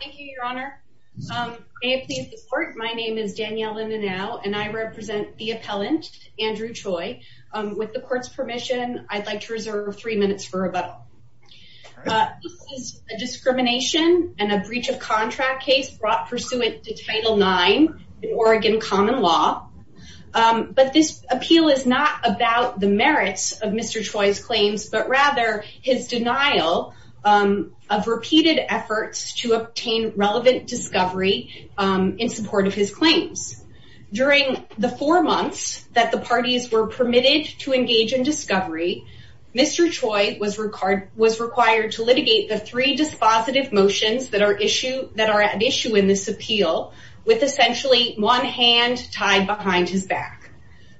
Thank you, your honor. May it please the court, my name is Danielle Inanow and I represent the appellant, Andrew Choi. With the court's permission, I'd like to reserve three minutes for rebuttal. This is a discrimination and a breach of contract case brought pursuant to Title IX in Oregon common law, but this appeal is not about the merits of Mr. Choi's claims, but rather his denial of repeated efforts to obtain relevant discovery in support of his claims. During the four months that the parties were permitted to engage in discovery, Mr. Choi was required to litigate the three dispositive motions that are at issue in this appeal with essentially one hand tied behind his back.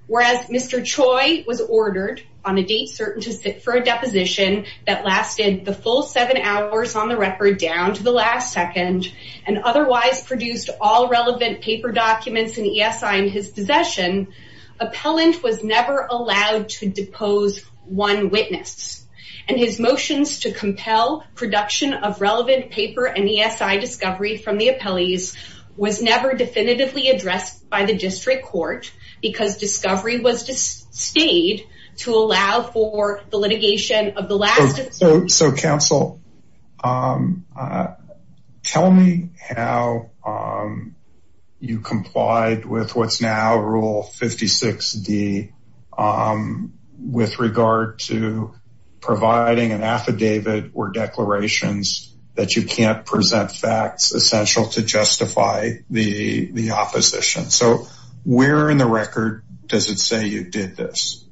Whereas Mr. Choi was ordered on a date certain to sit for a deposition that lasted the full seven hours on the record down to the last second and otherwise produced all relevant paper documents and ESI in his possession, appellant was never allowed to depose one witness and his motions to compel production of relevant paper and ESI discovery from the appellees was never definitively addressed by the district court because discovery was to stayed to allow for the litigation of So counsel, tell me how you complied with what's now rule 56D with regard to providing an affidavit or declarations that you can't present facts essential to justify the opposition. So where in the record does it say you did this?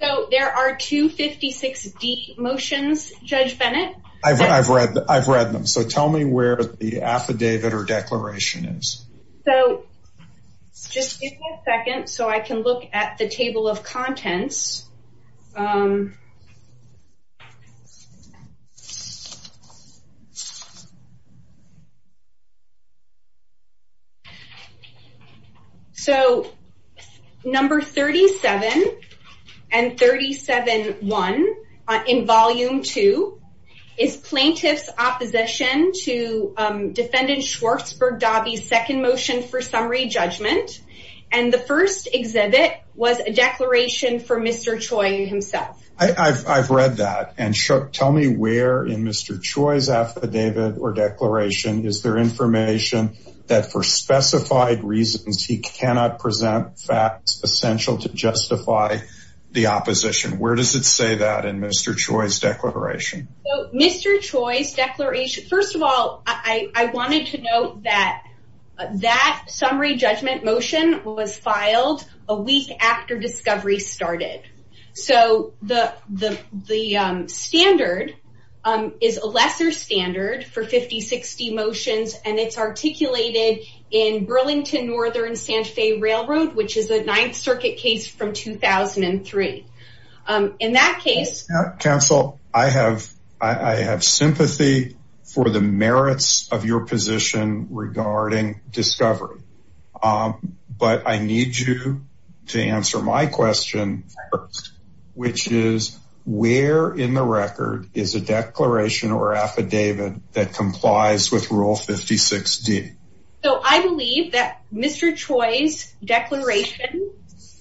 So there are two 56D motions, Judge Bennett. I've read them. So tell me where the affidavit or declaration is. So just a second so I can look at the And 37 one in volume two is plaintiff's opposition to defendant Schwartzberg Dobby's second motion for summary judgment. And the first exhibit was a declaration for Mr. Choi himself. I've read that and shook. Tell me where in Mr. Choi's affidavit or declaration is there information that for specified reasons, he cannot present facts essential to justify the opposition. Where does it say that in Mr. Choi's declaration? Mr. Choi's declaration. First of all, I wanted to note that that summary judgment motion was filed a week after discovery started. So the standard is a lesser standard for 5060 motions and it's articulated in Burlington Northern San Fe Railroad, which is a Ninth Circuit case from 2003. In that case, counsel, I have sympathy for the merits of your position regarding discovery. But I need you to answer my question, which is where in the record is a declaration or affidavit that 5060? So I believe that Mr. Choi's declaration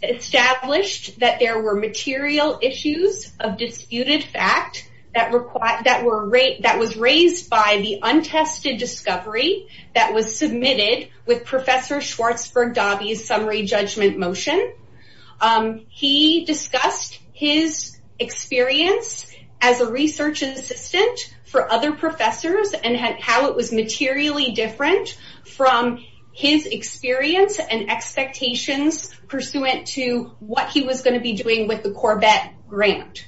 established that there were material issues of disputed fact that require that were rate that was raised by the untested discovery that was submitted with Professor Schwartzberg Dobby's summary judgment motion. Um, he discussed his experience as a research assistant for other professors and how it was materially different from his experience and expectations pursuant to what he was going to be doing with the Corvette grant.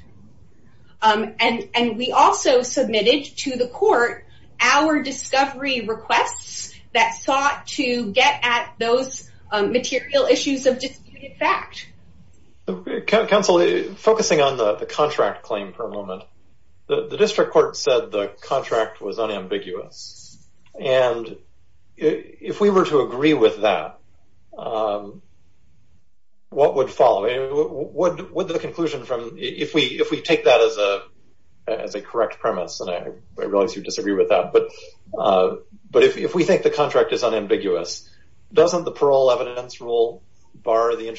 Um, and and we also submitted to the court our discovery requests that sought to get at those material issues of disputed fact. Counsel, focusing on the contract claim for a moment, the district court said the contract was unambiguous. And if we were to agree with that, um, what would follow? What would the conclusion from if we if we take that as a as a correct premise? And I realize you disagree with that. But but if we think the contract is unambiguous, doesn't the parole evidence rule bar the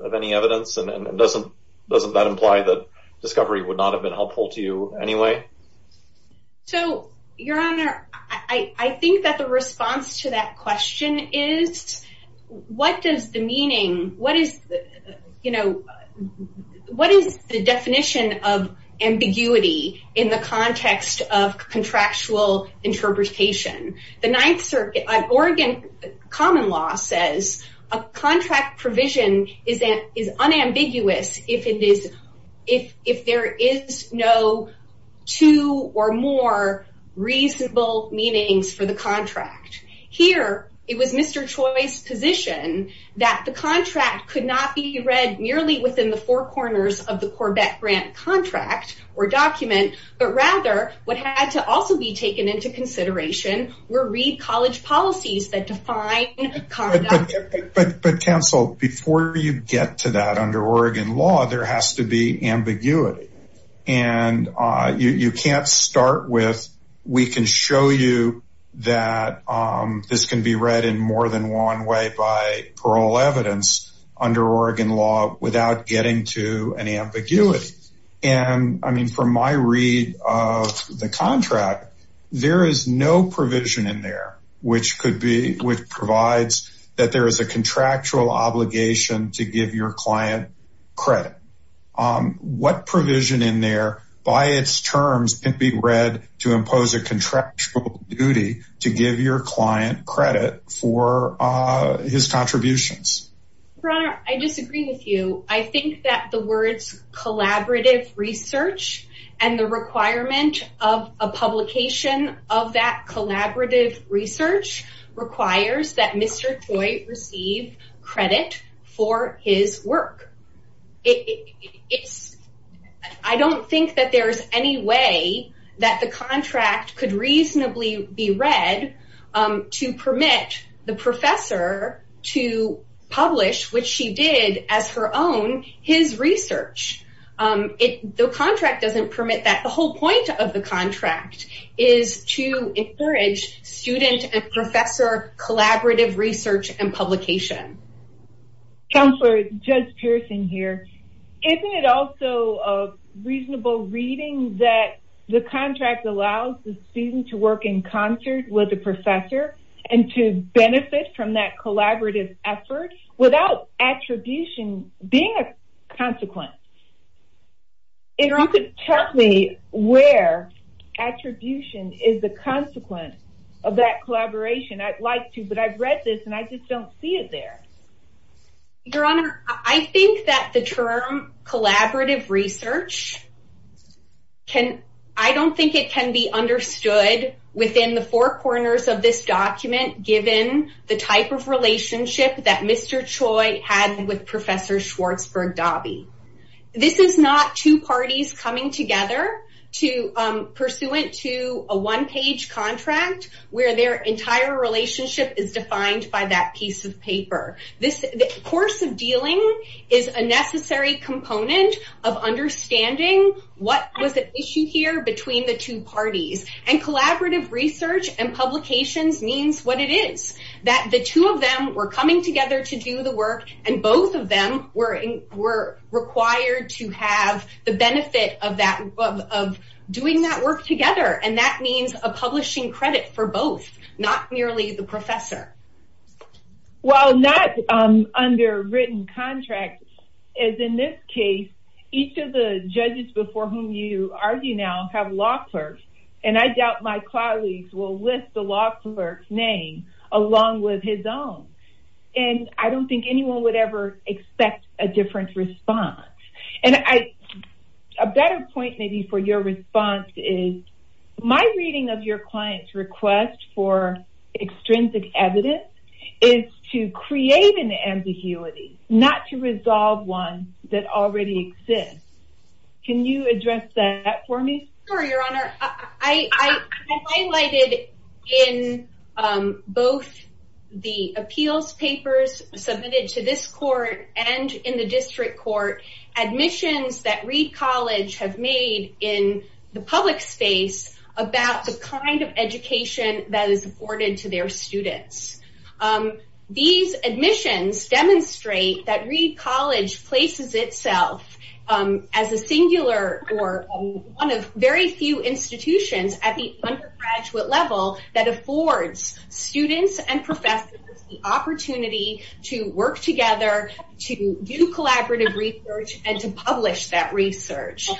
of any evidence? And doesn't doesn't that imply that discovery would not have been helpful to you anyway? So, Your Honor, I think that the response to that question is what does the meaning? What is, you know, what is the definition of ambiguity in the context of contractual interpretation? The is that is unambiguous if it is if if there is no two or more reasonable meanings for the contract. Here it was Mr. Choi's position that the contract could not be read merely within the four corners of the Corvette grant contract or document, but rather what had to also be taken into consideration were read college policies that define but but counsel before you get to that under Oregon law, there has to be ambiguity and you can't start with. We can show you that this can be read in more than one way by parole evidence under Oregon law without getting to an ambiguity. And I mean, from my read of the contract, there is no provision in there which could be which provides that there is a contractual obligation to give your client credit. What provision in there by its terms can be read to impose a contractual duty to give your client credit for his contributions? Your Honor, I disagree with you. I think that the implementation of that collaborative research requires that Mr. Choi receive credit for his work. I don't think that there's any way that the contract could reasonably be read to permit the professor to publish, which she did as her own, his research. The contract doesn't permit that. The whole point of the contract is to encourage student and professor collaborative research and publication. Counselor, Judge Pearson here. Isn't it also a reasonable reading that the contract allows the student to work in concert with the professor and to benefit from that collaborative effort without attribution being a consequence? If you could tell me where attribution is the consequence of that collaboration, I'd like to, but I've read this and I just don't see it there. Your Honor, I think that the term collaborative research can, I don't think it can be understood within the four corners of this document, given the type of relationship that Mr. Choi had with Professor Schwartzberg-Dobby. This is not two parties coming together pursuant to a one-page contract where their entire relationship is defined by that piece of paper. The course of dealing is a necessary component of understanding what was at issue here between the two parties. And collaborative research and publications means what it is. That the two of them were coming together to do the work and both of them were required to have the benefit of doing that work together. And that means a publishing credit for both, not merely the professor. While not under written contract, as in this case, each of the judges before whom you argue now have law clerks, and I doubt my colleagues will list the law clerk's name along with his own. And I don't think anyone would ever expect a different response. And I, a better point maybe for your response is, my reading of your client's request for extrinsic evidence is to create an ambiguity, not to resolve one that already exists. Can you address that for me? Sure, your honor. I highlighted in both the appeals papers submitted to this court and in the district court, admissions that Reed College have made in the public space about the kind of education that is afforded to their students. These admissions demonstrate that Reed College places itself as a singular or one of very few institutions at the undergraduate level that affords students and professors the opportunity to work together, to do collaborative research, and to publish that research.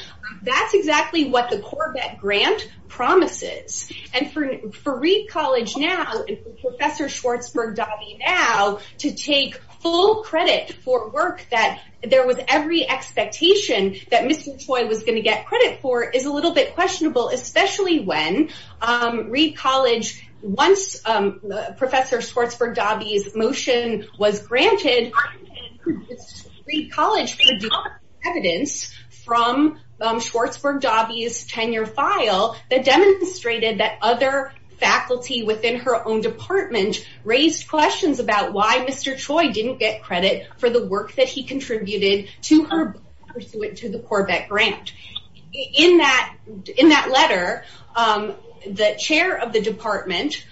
That's exactly what the Corvette Grant promises. And for Reed College now, and for Professor Schwartzberg-Dobby now, to take full credit for work that there was every expectation that Mr. Toye was going to get credit for is a little bit questionable, especially when Reed College, once Professor Schwartzberg-Dobby's motion was granted, Reed College produced evidence from Schwartzberg-Dobby's tenure file that demonstrated that other faculty within her own department raised questions about why Mr. Toye didn't get credit for the work that he contributed to her pursuant to the Corvette Grant. In that letter, the chair of the department,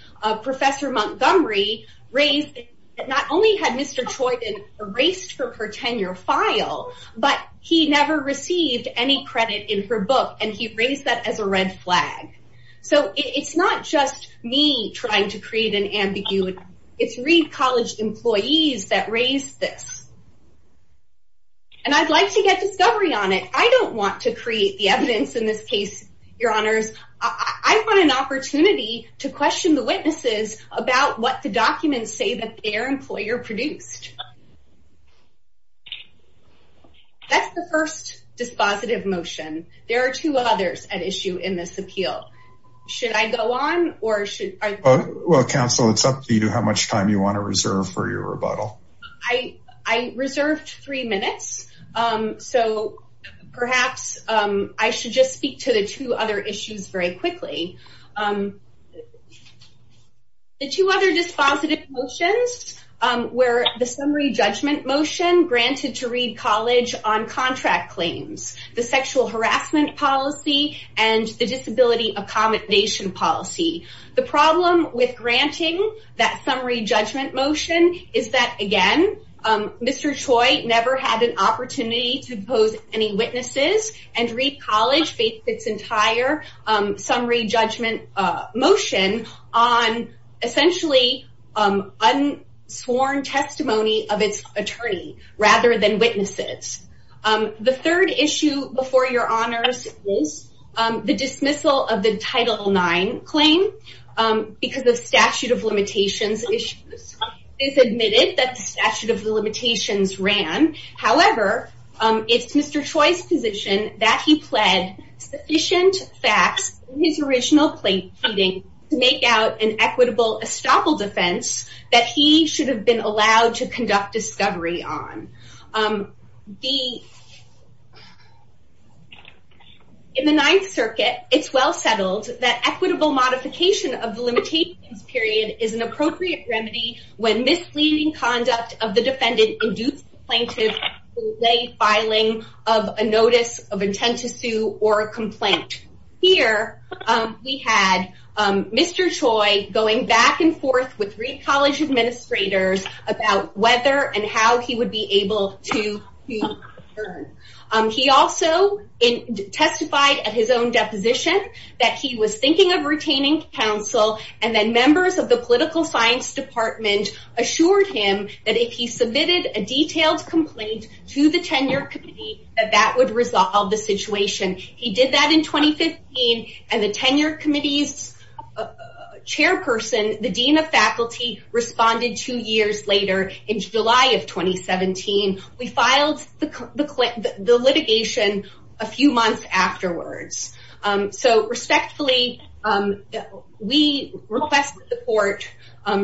Professor Montgomery, raised that not only had Mr. Toye been erased from her tenure file, but he never received any credit in her book, and he raised that as a red flag. So it's not just me trying to create an ambiguity. It's Reed College employees that raised this. And I'd like to get discovery on it. I don't want to create the evidence in this case, your honors. I want an opportunity to question the witnesses about what the documents say that their employer produced. That's the first dispositive motion. There are two others at issue in this appeal. Should I go on or should I? Well, counsel, it's up to you how much time you want to reserve for your rebuttal. I reserved three minutes. So perhaps I should just speak to the two other issues very quickly. The two other dispositive motions were the summary judgment motion granted to Reed College on contract claims, the sexual harassment policy, and the disability accommodation policy. The problem with granting that summary judgment motion is that, again, Mr. Toye never had an opportunity to pose any witnesses, and Reed College based its entire summary judgment motion on essentially unsworn testimony of its attorney rather than witnesses. The third issue before your honors is the dismissal of the Title IX claim because of statute of limitations issues. It's admitted that the statute of limitations ran. However, it's Mr. Toye's position that he pled sufficient facts in his original plea meeting to make out an equitable estoppel defense that he should have been allowed to conduct discovery on. In the Ninth Circuit, it's well settled that equitable modification of the limitations period is an appropriate remedy when misleading conduct of the defendant induced the plaintiff to delay filing of a notice of intent to sue or a complaint. Here, we had Mr. Toye going back and forth with Reed College administrators about whether and how he would be able to return. He also testified at his own deposition that he was thinking of retaining counsel, and then members of the political science department assured him that if he submitted a detailed complaint to the tenure committee that that would resolve the situation. He did that in 2015, and the tenure committee's chairperson, the dean of faculty, responded two years later in July of 2017. We filed the litigation a few months afterwards. So, respectfully, we request that the court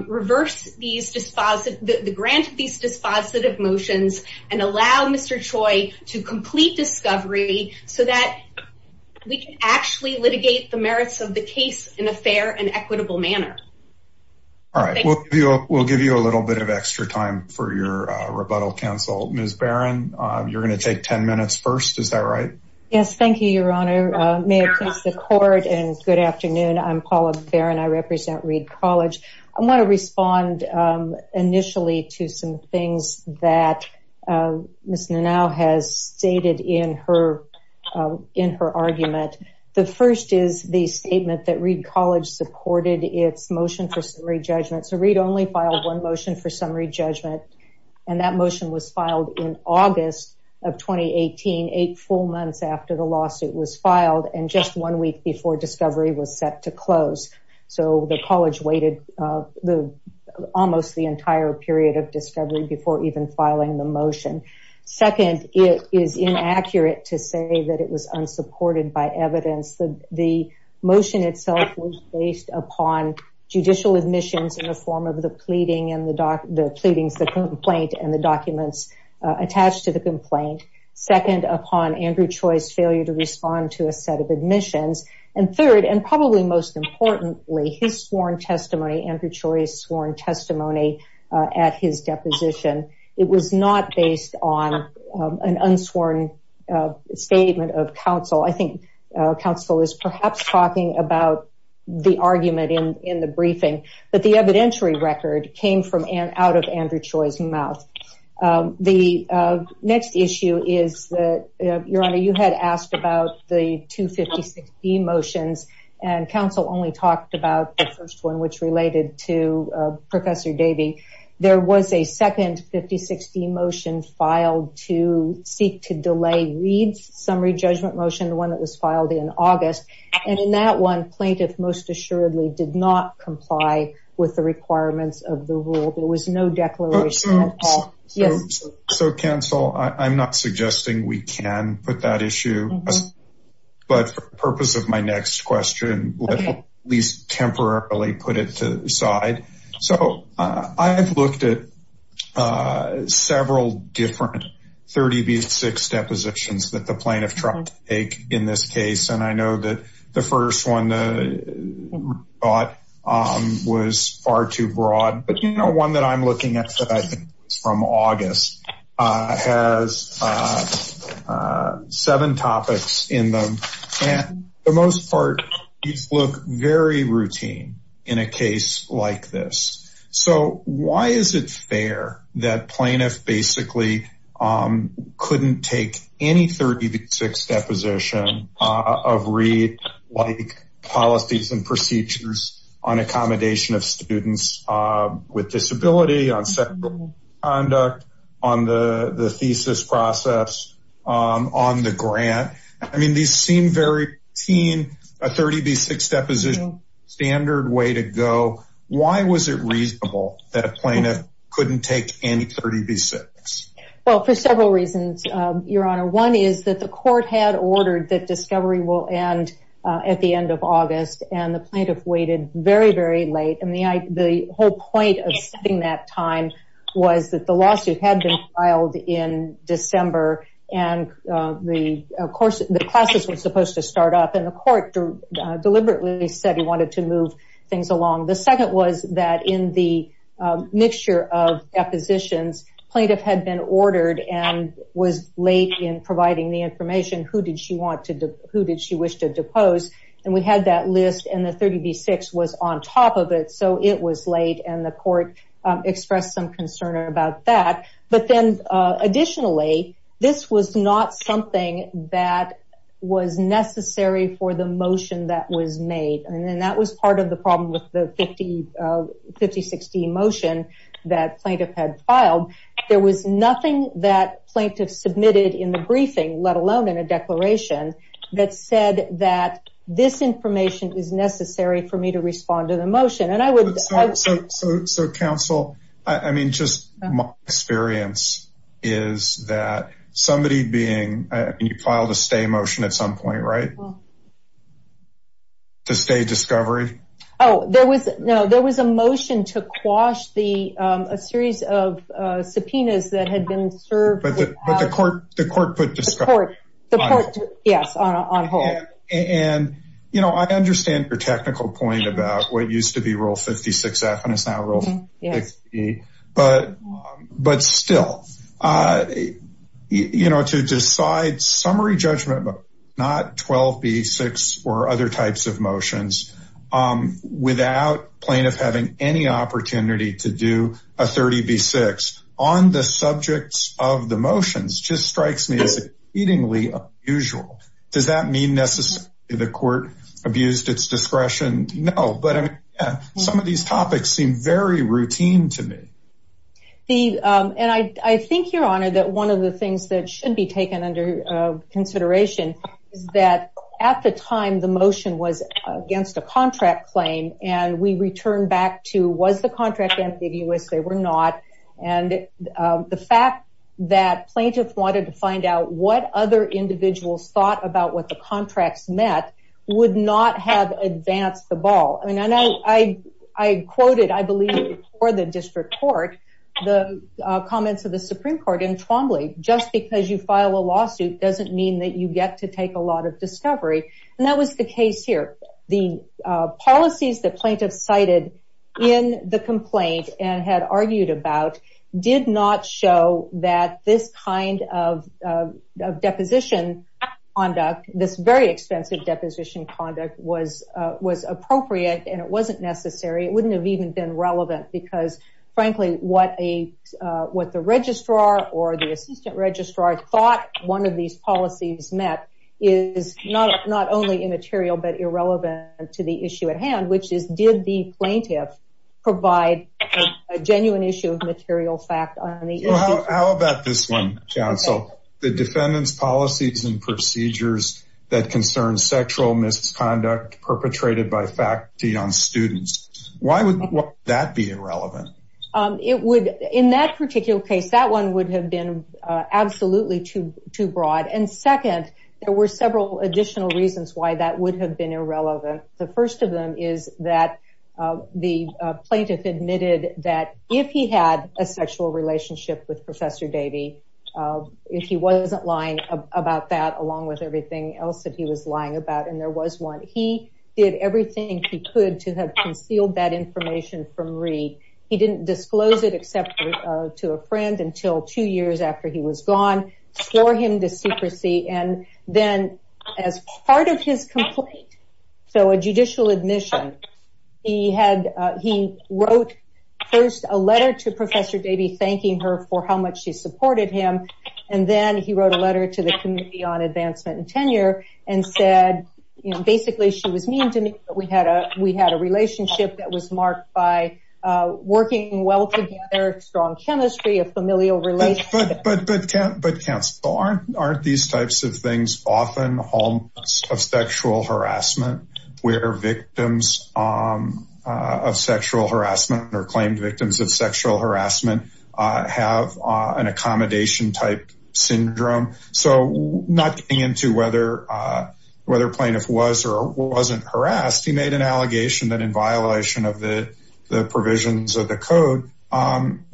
reverse the grant of these dispositive motions and allow Mr. Toye to complete discovery so that we can actually litigate the merits of the case in a fair and equitable manner. All right, we'll give you a little bit of extra time for your rebuttal, counsel. Ms. Barron, you're going to take 10 minutes first. Is that right? Yes, thank you, Your Honor. May it please the court, and good afternoon. I'm Paula Barron. I represent Reed College. I want to respond initially to some things that Ms. Nanau has stated in her argument. The first is the statement that Reed College supported its motion for summary judgment. So, Reed only filed one motion for summary judgment, and that motion was filed in August of 2018, eight full months after the lawsuit was filed and just one week before discovery was set to close. So, the college waited almost the entire period of discovery before even filing the motion. Second, it is inaccurate to say that it was unsupported by evidence. The motion itself was based upon judicial admissions in the form of the pleadings, the complaint, and the documents attached to the complaint. Second, upon Andrew Toye's failure to respond to a set of admissions. And third, and probably most importantly, his sworn testimony, Andrew Toye's sworn testimony at his deposition. It was not based on an unsworn statement of counsel. I think counsel is perhaps talking about the argument in the briefing, but the evidentiary record came out of Andrew Toye's mouth. The next issue is that, Your Honor, you had asked about the two 5060 motions, and counsel only talked about the first one, which related to Professor Davey. There was a second 5060 motion filed to seek to delay Reed's summary judgment motion, the one that was filed in August. And in that one, plaintiff most assuredly did not comply with the requirements of the rule. There was no declaration at all. So, counsel, I'm not suggesting we can put that issue, but for the purpose of my next question, let's at least temporarily put it to the side. So I have looked at several different 30 v. 6 depositions that the plaintiff tried to take in this case. And I know that the first one was far too broad. But, you know, one that I'm looking at from August has seven topics in them. And for the most part, these look very routine in a case like this. So why is it fair that plaintiff basically couldn't take any 30 v. 6 deposition of Reed-like policies and procedures on accommodation of students with disability, on sexual conduct, on the thesis process, on the grant? I mean, these seem very routine, a 30 v. 6 deposition, standard way to go. Why was it reasonable that a plaintiff couldn't take any 30 v. 6? Well, for several reasons, Your Honor. One is that the court had ordered that discovery will end at the end of August. And the plaintiff waited very, very late. And the whole point of setting that time was that the lawsuit had been filed in December. And, of course, the classes were supposed to start up. And the court deliberately said he wanted to move things along. The second was that in the mixture of depositions, plaintiff had been ordered and was late in providing the information, who did she wish to depose. And we had that list. And the 30 v. 6 was on top of it. So it was late. And the court expressed some concern about that. But then, additionally, this was not something that was necessary for the motion that was made. And that was part of the problem with the 50 v. 16 motion that plaintiff had filed. There was nothing that plaintiff submitted in the briefing, let alone in a declaration, that said that this information is necessary for me to respond to the motion. So, counsel, I mean, just my experience is that somebody being, you filed a stay motion at some point, right? To stay discovery? Oh, no, there was a motion to quash a series of subpoenas that had been served. But the court put discovery on hold. Yes, on hold. And, you know, I understand your technical point about what used to be rule 56 F, and it's now rule 60. But still, you know, to decide summary judgment, but not 12 v. 6 or other types of motions without plaintiff having any opportunity to do a 30 v. 6 on the subjects of the motions just strikes me as exceedingly unusual. Does that mean necessarily the court abused its discretion? No, but some of these topics seem very routine to me. The and I think you're honored that one of the things that should be taken under consideration is that at the time the motion was against a contract claim. And we return back to was the contract ambiguous? They were not. And the fact that plaintiffs wanted to find out what other individuals thought about what the contracts met would not have advanced the ball. I mean, I know I quoted, I believe, for the district court, the comments of the Supreme Court in Twombly. Just because you file a lawsuit doesn't mean that you get to take a lot of discovery. And that was the case here. The policies that plaintiffs cited in the complaint and had argued about did not show that this kind of deposition on this very expensive deposition conduct was was appropriate and it wasn't necessary. It wouldn't have even been relevant because, frankly, what a what the registrar or the assistant registrar thought one of these policies met is not not only immaterial, but irrelevant to the issue at hand, which is did the plaintiff provide a genuine issue of material fact? How about this one? So the defendant's policies and procedures that concern sexual misconduct perpetrated by faculty on students, why would that be irrelevant? It would in that particular case, that one would have been absolutely too too broad. And second, there were several additional reasons why that would have been irrelevant. The first of them is that the plaintiff admitted that if he had a sexual relationship with Professor Davey, if he wasn't lying about that, along with everything else that he was lying about and there was one, he did everything he could to have concealed that information from Reed. He didn't disclose it except to a friend until two years after he was gone, swore him to secrecy. And then as part of his complaint, so a judicial admission, he had he wrote first a letter to Professor Davey thanking her for how much she supported him. And then he wrote a letter to the Committee on Advancement and Tenure and said basically she was mean to me. We had a we had a relationship that was marked by working well together, strong chemistry, a familial relationship. But but but can't but can't aren't aren't these types of things often of sexual harassment where victims of sexual harassment or claimed victims of sexual harassment have an accommodation type syndrome? So not getting into whether whether plaintiff was or wasn't harassed, he made an allegation that in violation of the provisions of the code,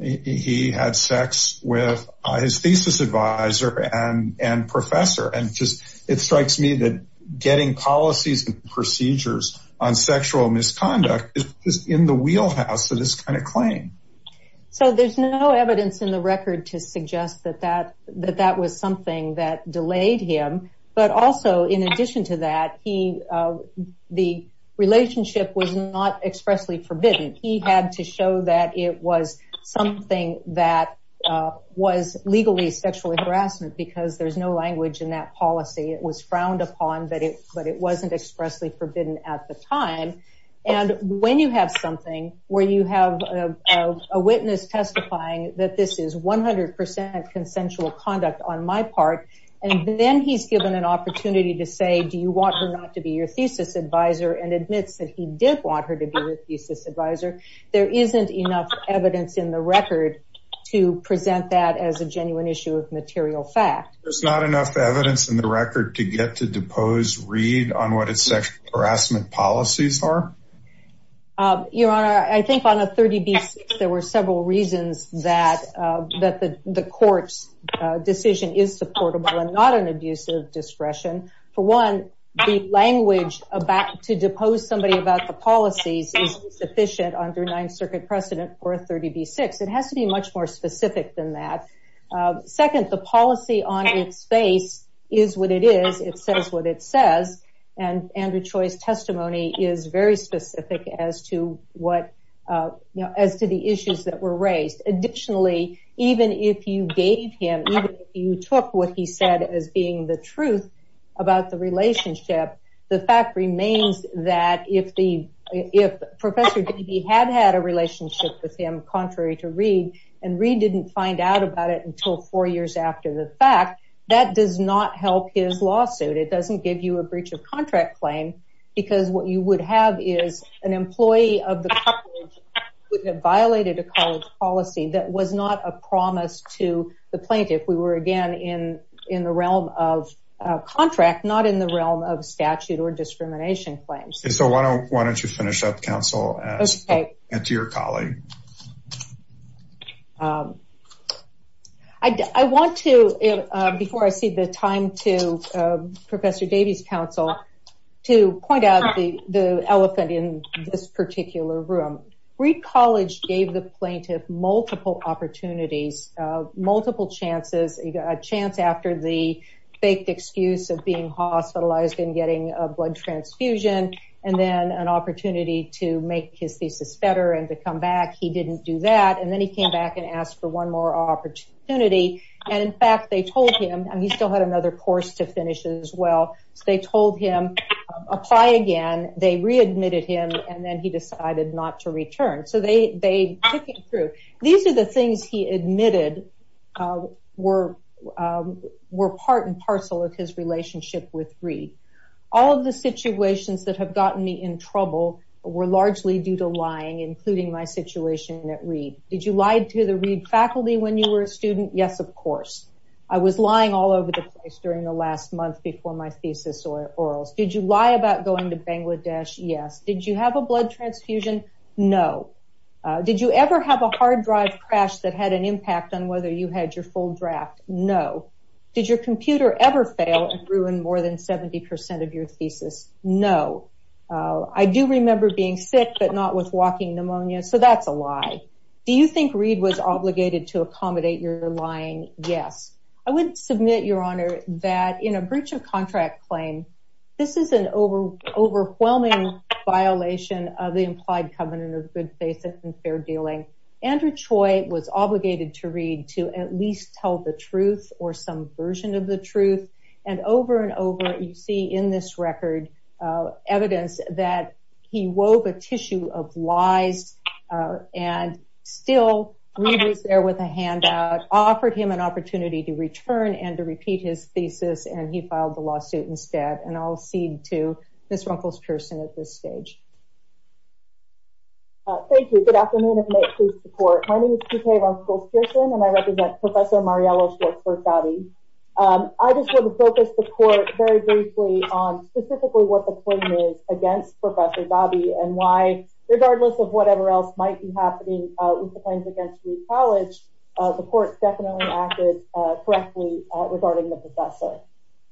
he had sex with his thesis advisor and and professor. And just it strikes me that getting policies and procedures on sexual misconduct is in the wheelhouse of this kind of claim. So there's no evidence in the record to suggest that that that that was something that delayed him. But also, in addition to that, he the relationship was not expressly forbidden. He had to show that it was something that was legally sexual harassment because there's no language in that policy. It was frowned upon, but it but it wasn't expressly forbidden at the time. And when you have something where you have a witness testifying that this is 100 percent consensual conduct on my part, and then he's given an opportunity to say, do you want her not to be your thesis advisor and admits that he did want her to be a thesis advisor? There isn't enough evidence in the record to present that as a genuine issue of material fact. There's not enough evidence in the record to get to depose Reed on what his sexual harassment policies are. Your Honor, I think on a 30B6, there were several reasons that that the court's decision is supportable and not an abuse of discretion. For one, the language about to depose somebody about the policies is sufficient under Ninth Circuit precedent for a 30B6. It has to be much more specific than that. Second, the policy on its face is what it is. It says what it says. And Andrew Choi's testimony is very specific as to what, you know, as to the issues that were raised. Additionally, even if you gave him, even if you took what he said as being the truth about the relationship, the fact remains that if Professor Davy had had a relationship with him, contrary to Reed, and Reed didn't find out about it until four years after the fact, that does not help his lawsuit. It doesn't give you a breach of contract claim because what you would have is an employee of the couple who violated a college policy that was not a promise to the plaintiff. We were, again, in the realm of contract, not in the realm of statute or discrimination claims. So why don't you finish up, counsel, and to your colleague. I want to, before I cede the time to Professor Davy's counsel, to point out the elephant in this particular room. Reed College gave the plaintiff multiple opportunities, multiple chances, a chance after the faked excuse of being hospitalized and getting a blood transfusion, and then an opportunity to make his thesis better and to come back. He didn't do that. And then he came back and asked for one more opportunity. And, in fact, they told him, and he still had another course to finish as well, so they told him, apply again. They readmitted him, and then he decided not to return. So they took him through. These are the things he admitted were part and parcel of his relationship with Reed. All of the situations that have gotten me in trouble were largely due to lying, including my situation at Reed. Did you lie to the Reed faculty when you were a student? Yes, of course. I was lying all over the place during the last month before my thesis orals. Did you lie about going to Bangladesh? Yes. Did you have a blood transfusion? No. Did you ever have a hard drive crash that had an impact on whether you had your full draft? No. Did your computer ever fail and ruin more than 70% of your thesis? No. I do remember being sick but not with walking pneumonia, so that's a lie. Do you think Reed was obligated to accommodate your lying? Yes. I would submit, Your Honor, that in a breach of contract claim, this is an overwhelming violation of the implied covenant of good faith and fair dealing. Andrew Choi was obligated to Reed to at least tell the truth or some version of the truth. And over and over you see in this record evidence that he wove a tissue of lies and still Reed was there with a handout, offered him an opportunity to return and to repeat his thesis, and he filed the lawsuit instead. And I'll cede to Ms. Runkles-Pearson at this stage. Thank you. Good afternoon, and may it please the Court. My name is T.K. Runkles-Pearson, and I represent Professor Mariello's work for Saudi. I just want to focus the Court very briefly on specifically what the claim is against Professor Ghabi and why, regardless of whatever else might be happening with the claims against Reed College, the Court definitely acted correctly regarding the professor.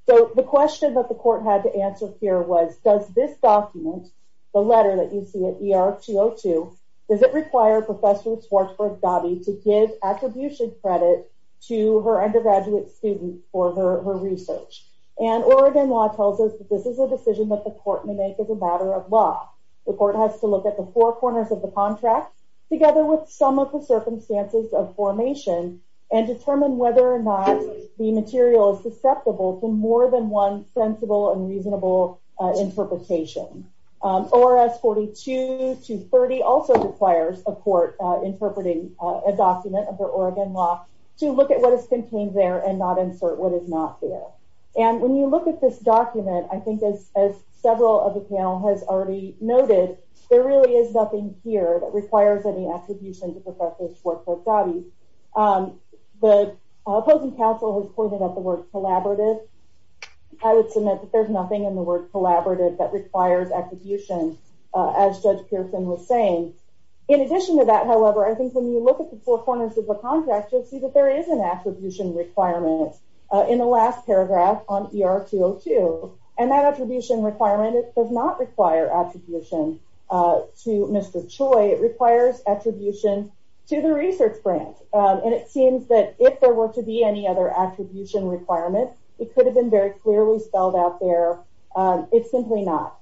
So the question that the Court had to answer here was, does this document, the letter that you see at ER-202, does it require Professor Schwartzberg-Ghabi to give attribution credit to her undergraduate students for her research? And Oregon law tells us that this is a decision that the Court may make as a matter of law. The Court has to look at the four corners of the contract, together with some of the circumstances of formation, and determine whether or not the material is susceptible to more than one sensible and reasonable interpretation. ORS 42-30 also requires a Court interpreting a document under Oregon law to look at what is contained there and not insert what is not there. And when you look at this document, I think as several of the panel has already noted, there really is nothing here that requires any attribution to Professor Schwartzberg-Ghabi. The opposing counsel has pointed out the word collaborative. I would submit that there's nothing in the word collaborative that requires attribution, as Judge Pearson was saying. In addition to that, however, I think when you look at the four corners of the contract, you'll see that there is an attribution requirement in the last paragraph on ER-202. And that attribution requirement does not require attribution to Mr. Choi. It requires attribution to the research grant. And it seems that if there were to be any other attribution requirement, it could have been very clearly spelled out there. It's simply not.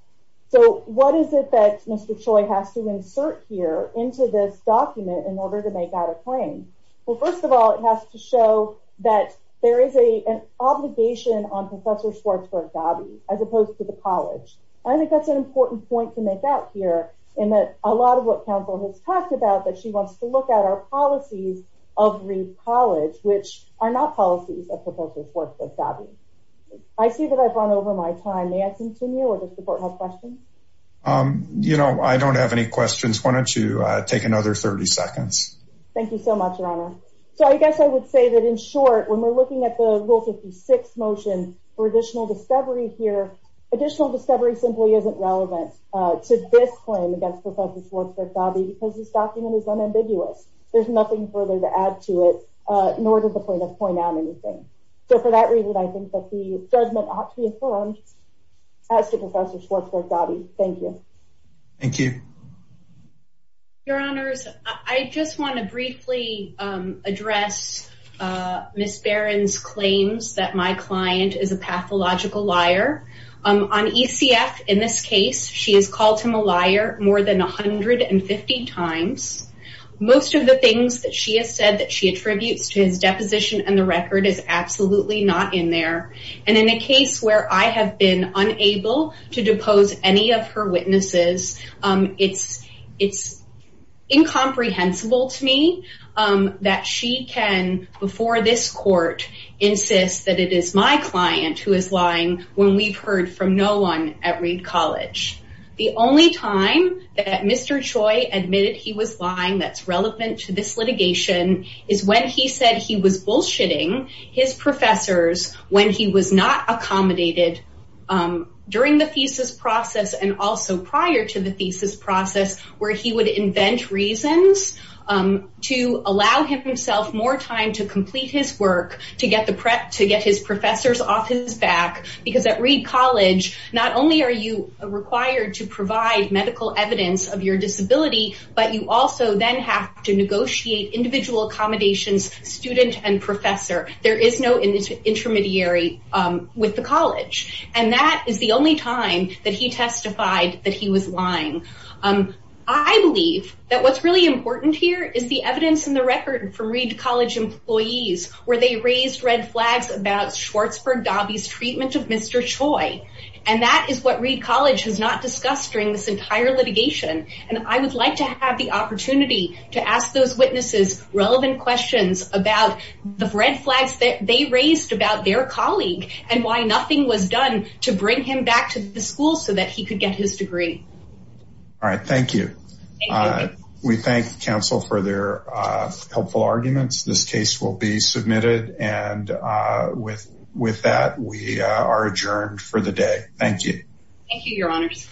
So what is it that Mr. Choi has to insert here into this document in order to make out a claim? Well, first of all, it has to show that there is an obligation on Professor Schwartzberg-Ghabi, as opposed to the college. I think that's an important point to make out here in that a lot of what counsel has talked about, that she wants to look at our policies of Reed College, which are not policies of Professor Schwartzberg-Ghabi. I see that I've run over my time. May I continue or does the court have questions? You know, I don't have any questions. Why don't you take another 30 seconds? Thank you so much, Your Honor. So I guess I would say that in short, when we're looking at the Rule 56 motion for additional discovery here, additional discovery simply isn't relevant to this claim against Professor Schwartzberg-Ghabi because this document is unambiguous. There's nothing further to add to it, nor does the plaintiff point out anything. So for that reason, I think that the judgment ought to be affirmed as to Professor Schwartzberg-Ghabi. Thank you. Thank you. Your Honors, I just want to briefly address Ms. Barron's claims that my client is a pathological liar. On ECF, in this case, she has called him a liar more than 150 times. Most of the things that she has said that she attributes to his deposition and the record is absolutely not in there. And in a case where I have been unable to depose any of her witnesses, it's incomprehensible to me that she can, before this court, insist that it is my client who is lying when we've heard from no one at Reed College. The only time that Mr. Choi admitted he was lying that's relevant to this litigation is when he said he was bullshitting his professors when he was not accommodated during the thesis process and also prior to the thesis process, where he would invent reasons to allow himself more time to complete his work, to get his professors off his back. Because at Reed College, not only are you required to provide medical evidence of your disability, but you also then have to negotiate individual accommodations, student and professor. There is no intermediary with the college. And that is the only time that he testified that he was lying. I believe that what's really important here is the evidence in the record from Reed College employees, where they raised red flags about Schwartzberg Dobby's treatment of Mr. Choi. And that is what Reed College has not discussed during this entire litigation. And I would like to have the opportunity to ask those witnesses relevant questions about the red flags that they raised about their colleague and why nothing was done to bring him back to the school so that he could get his degree. All right. Thank you. We thank counsel for their helpful arguments. This case will be submitted. And with that, we are adjourned for the day. Thank you. Thank you, Your Honors.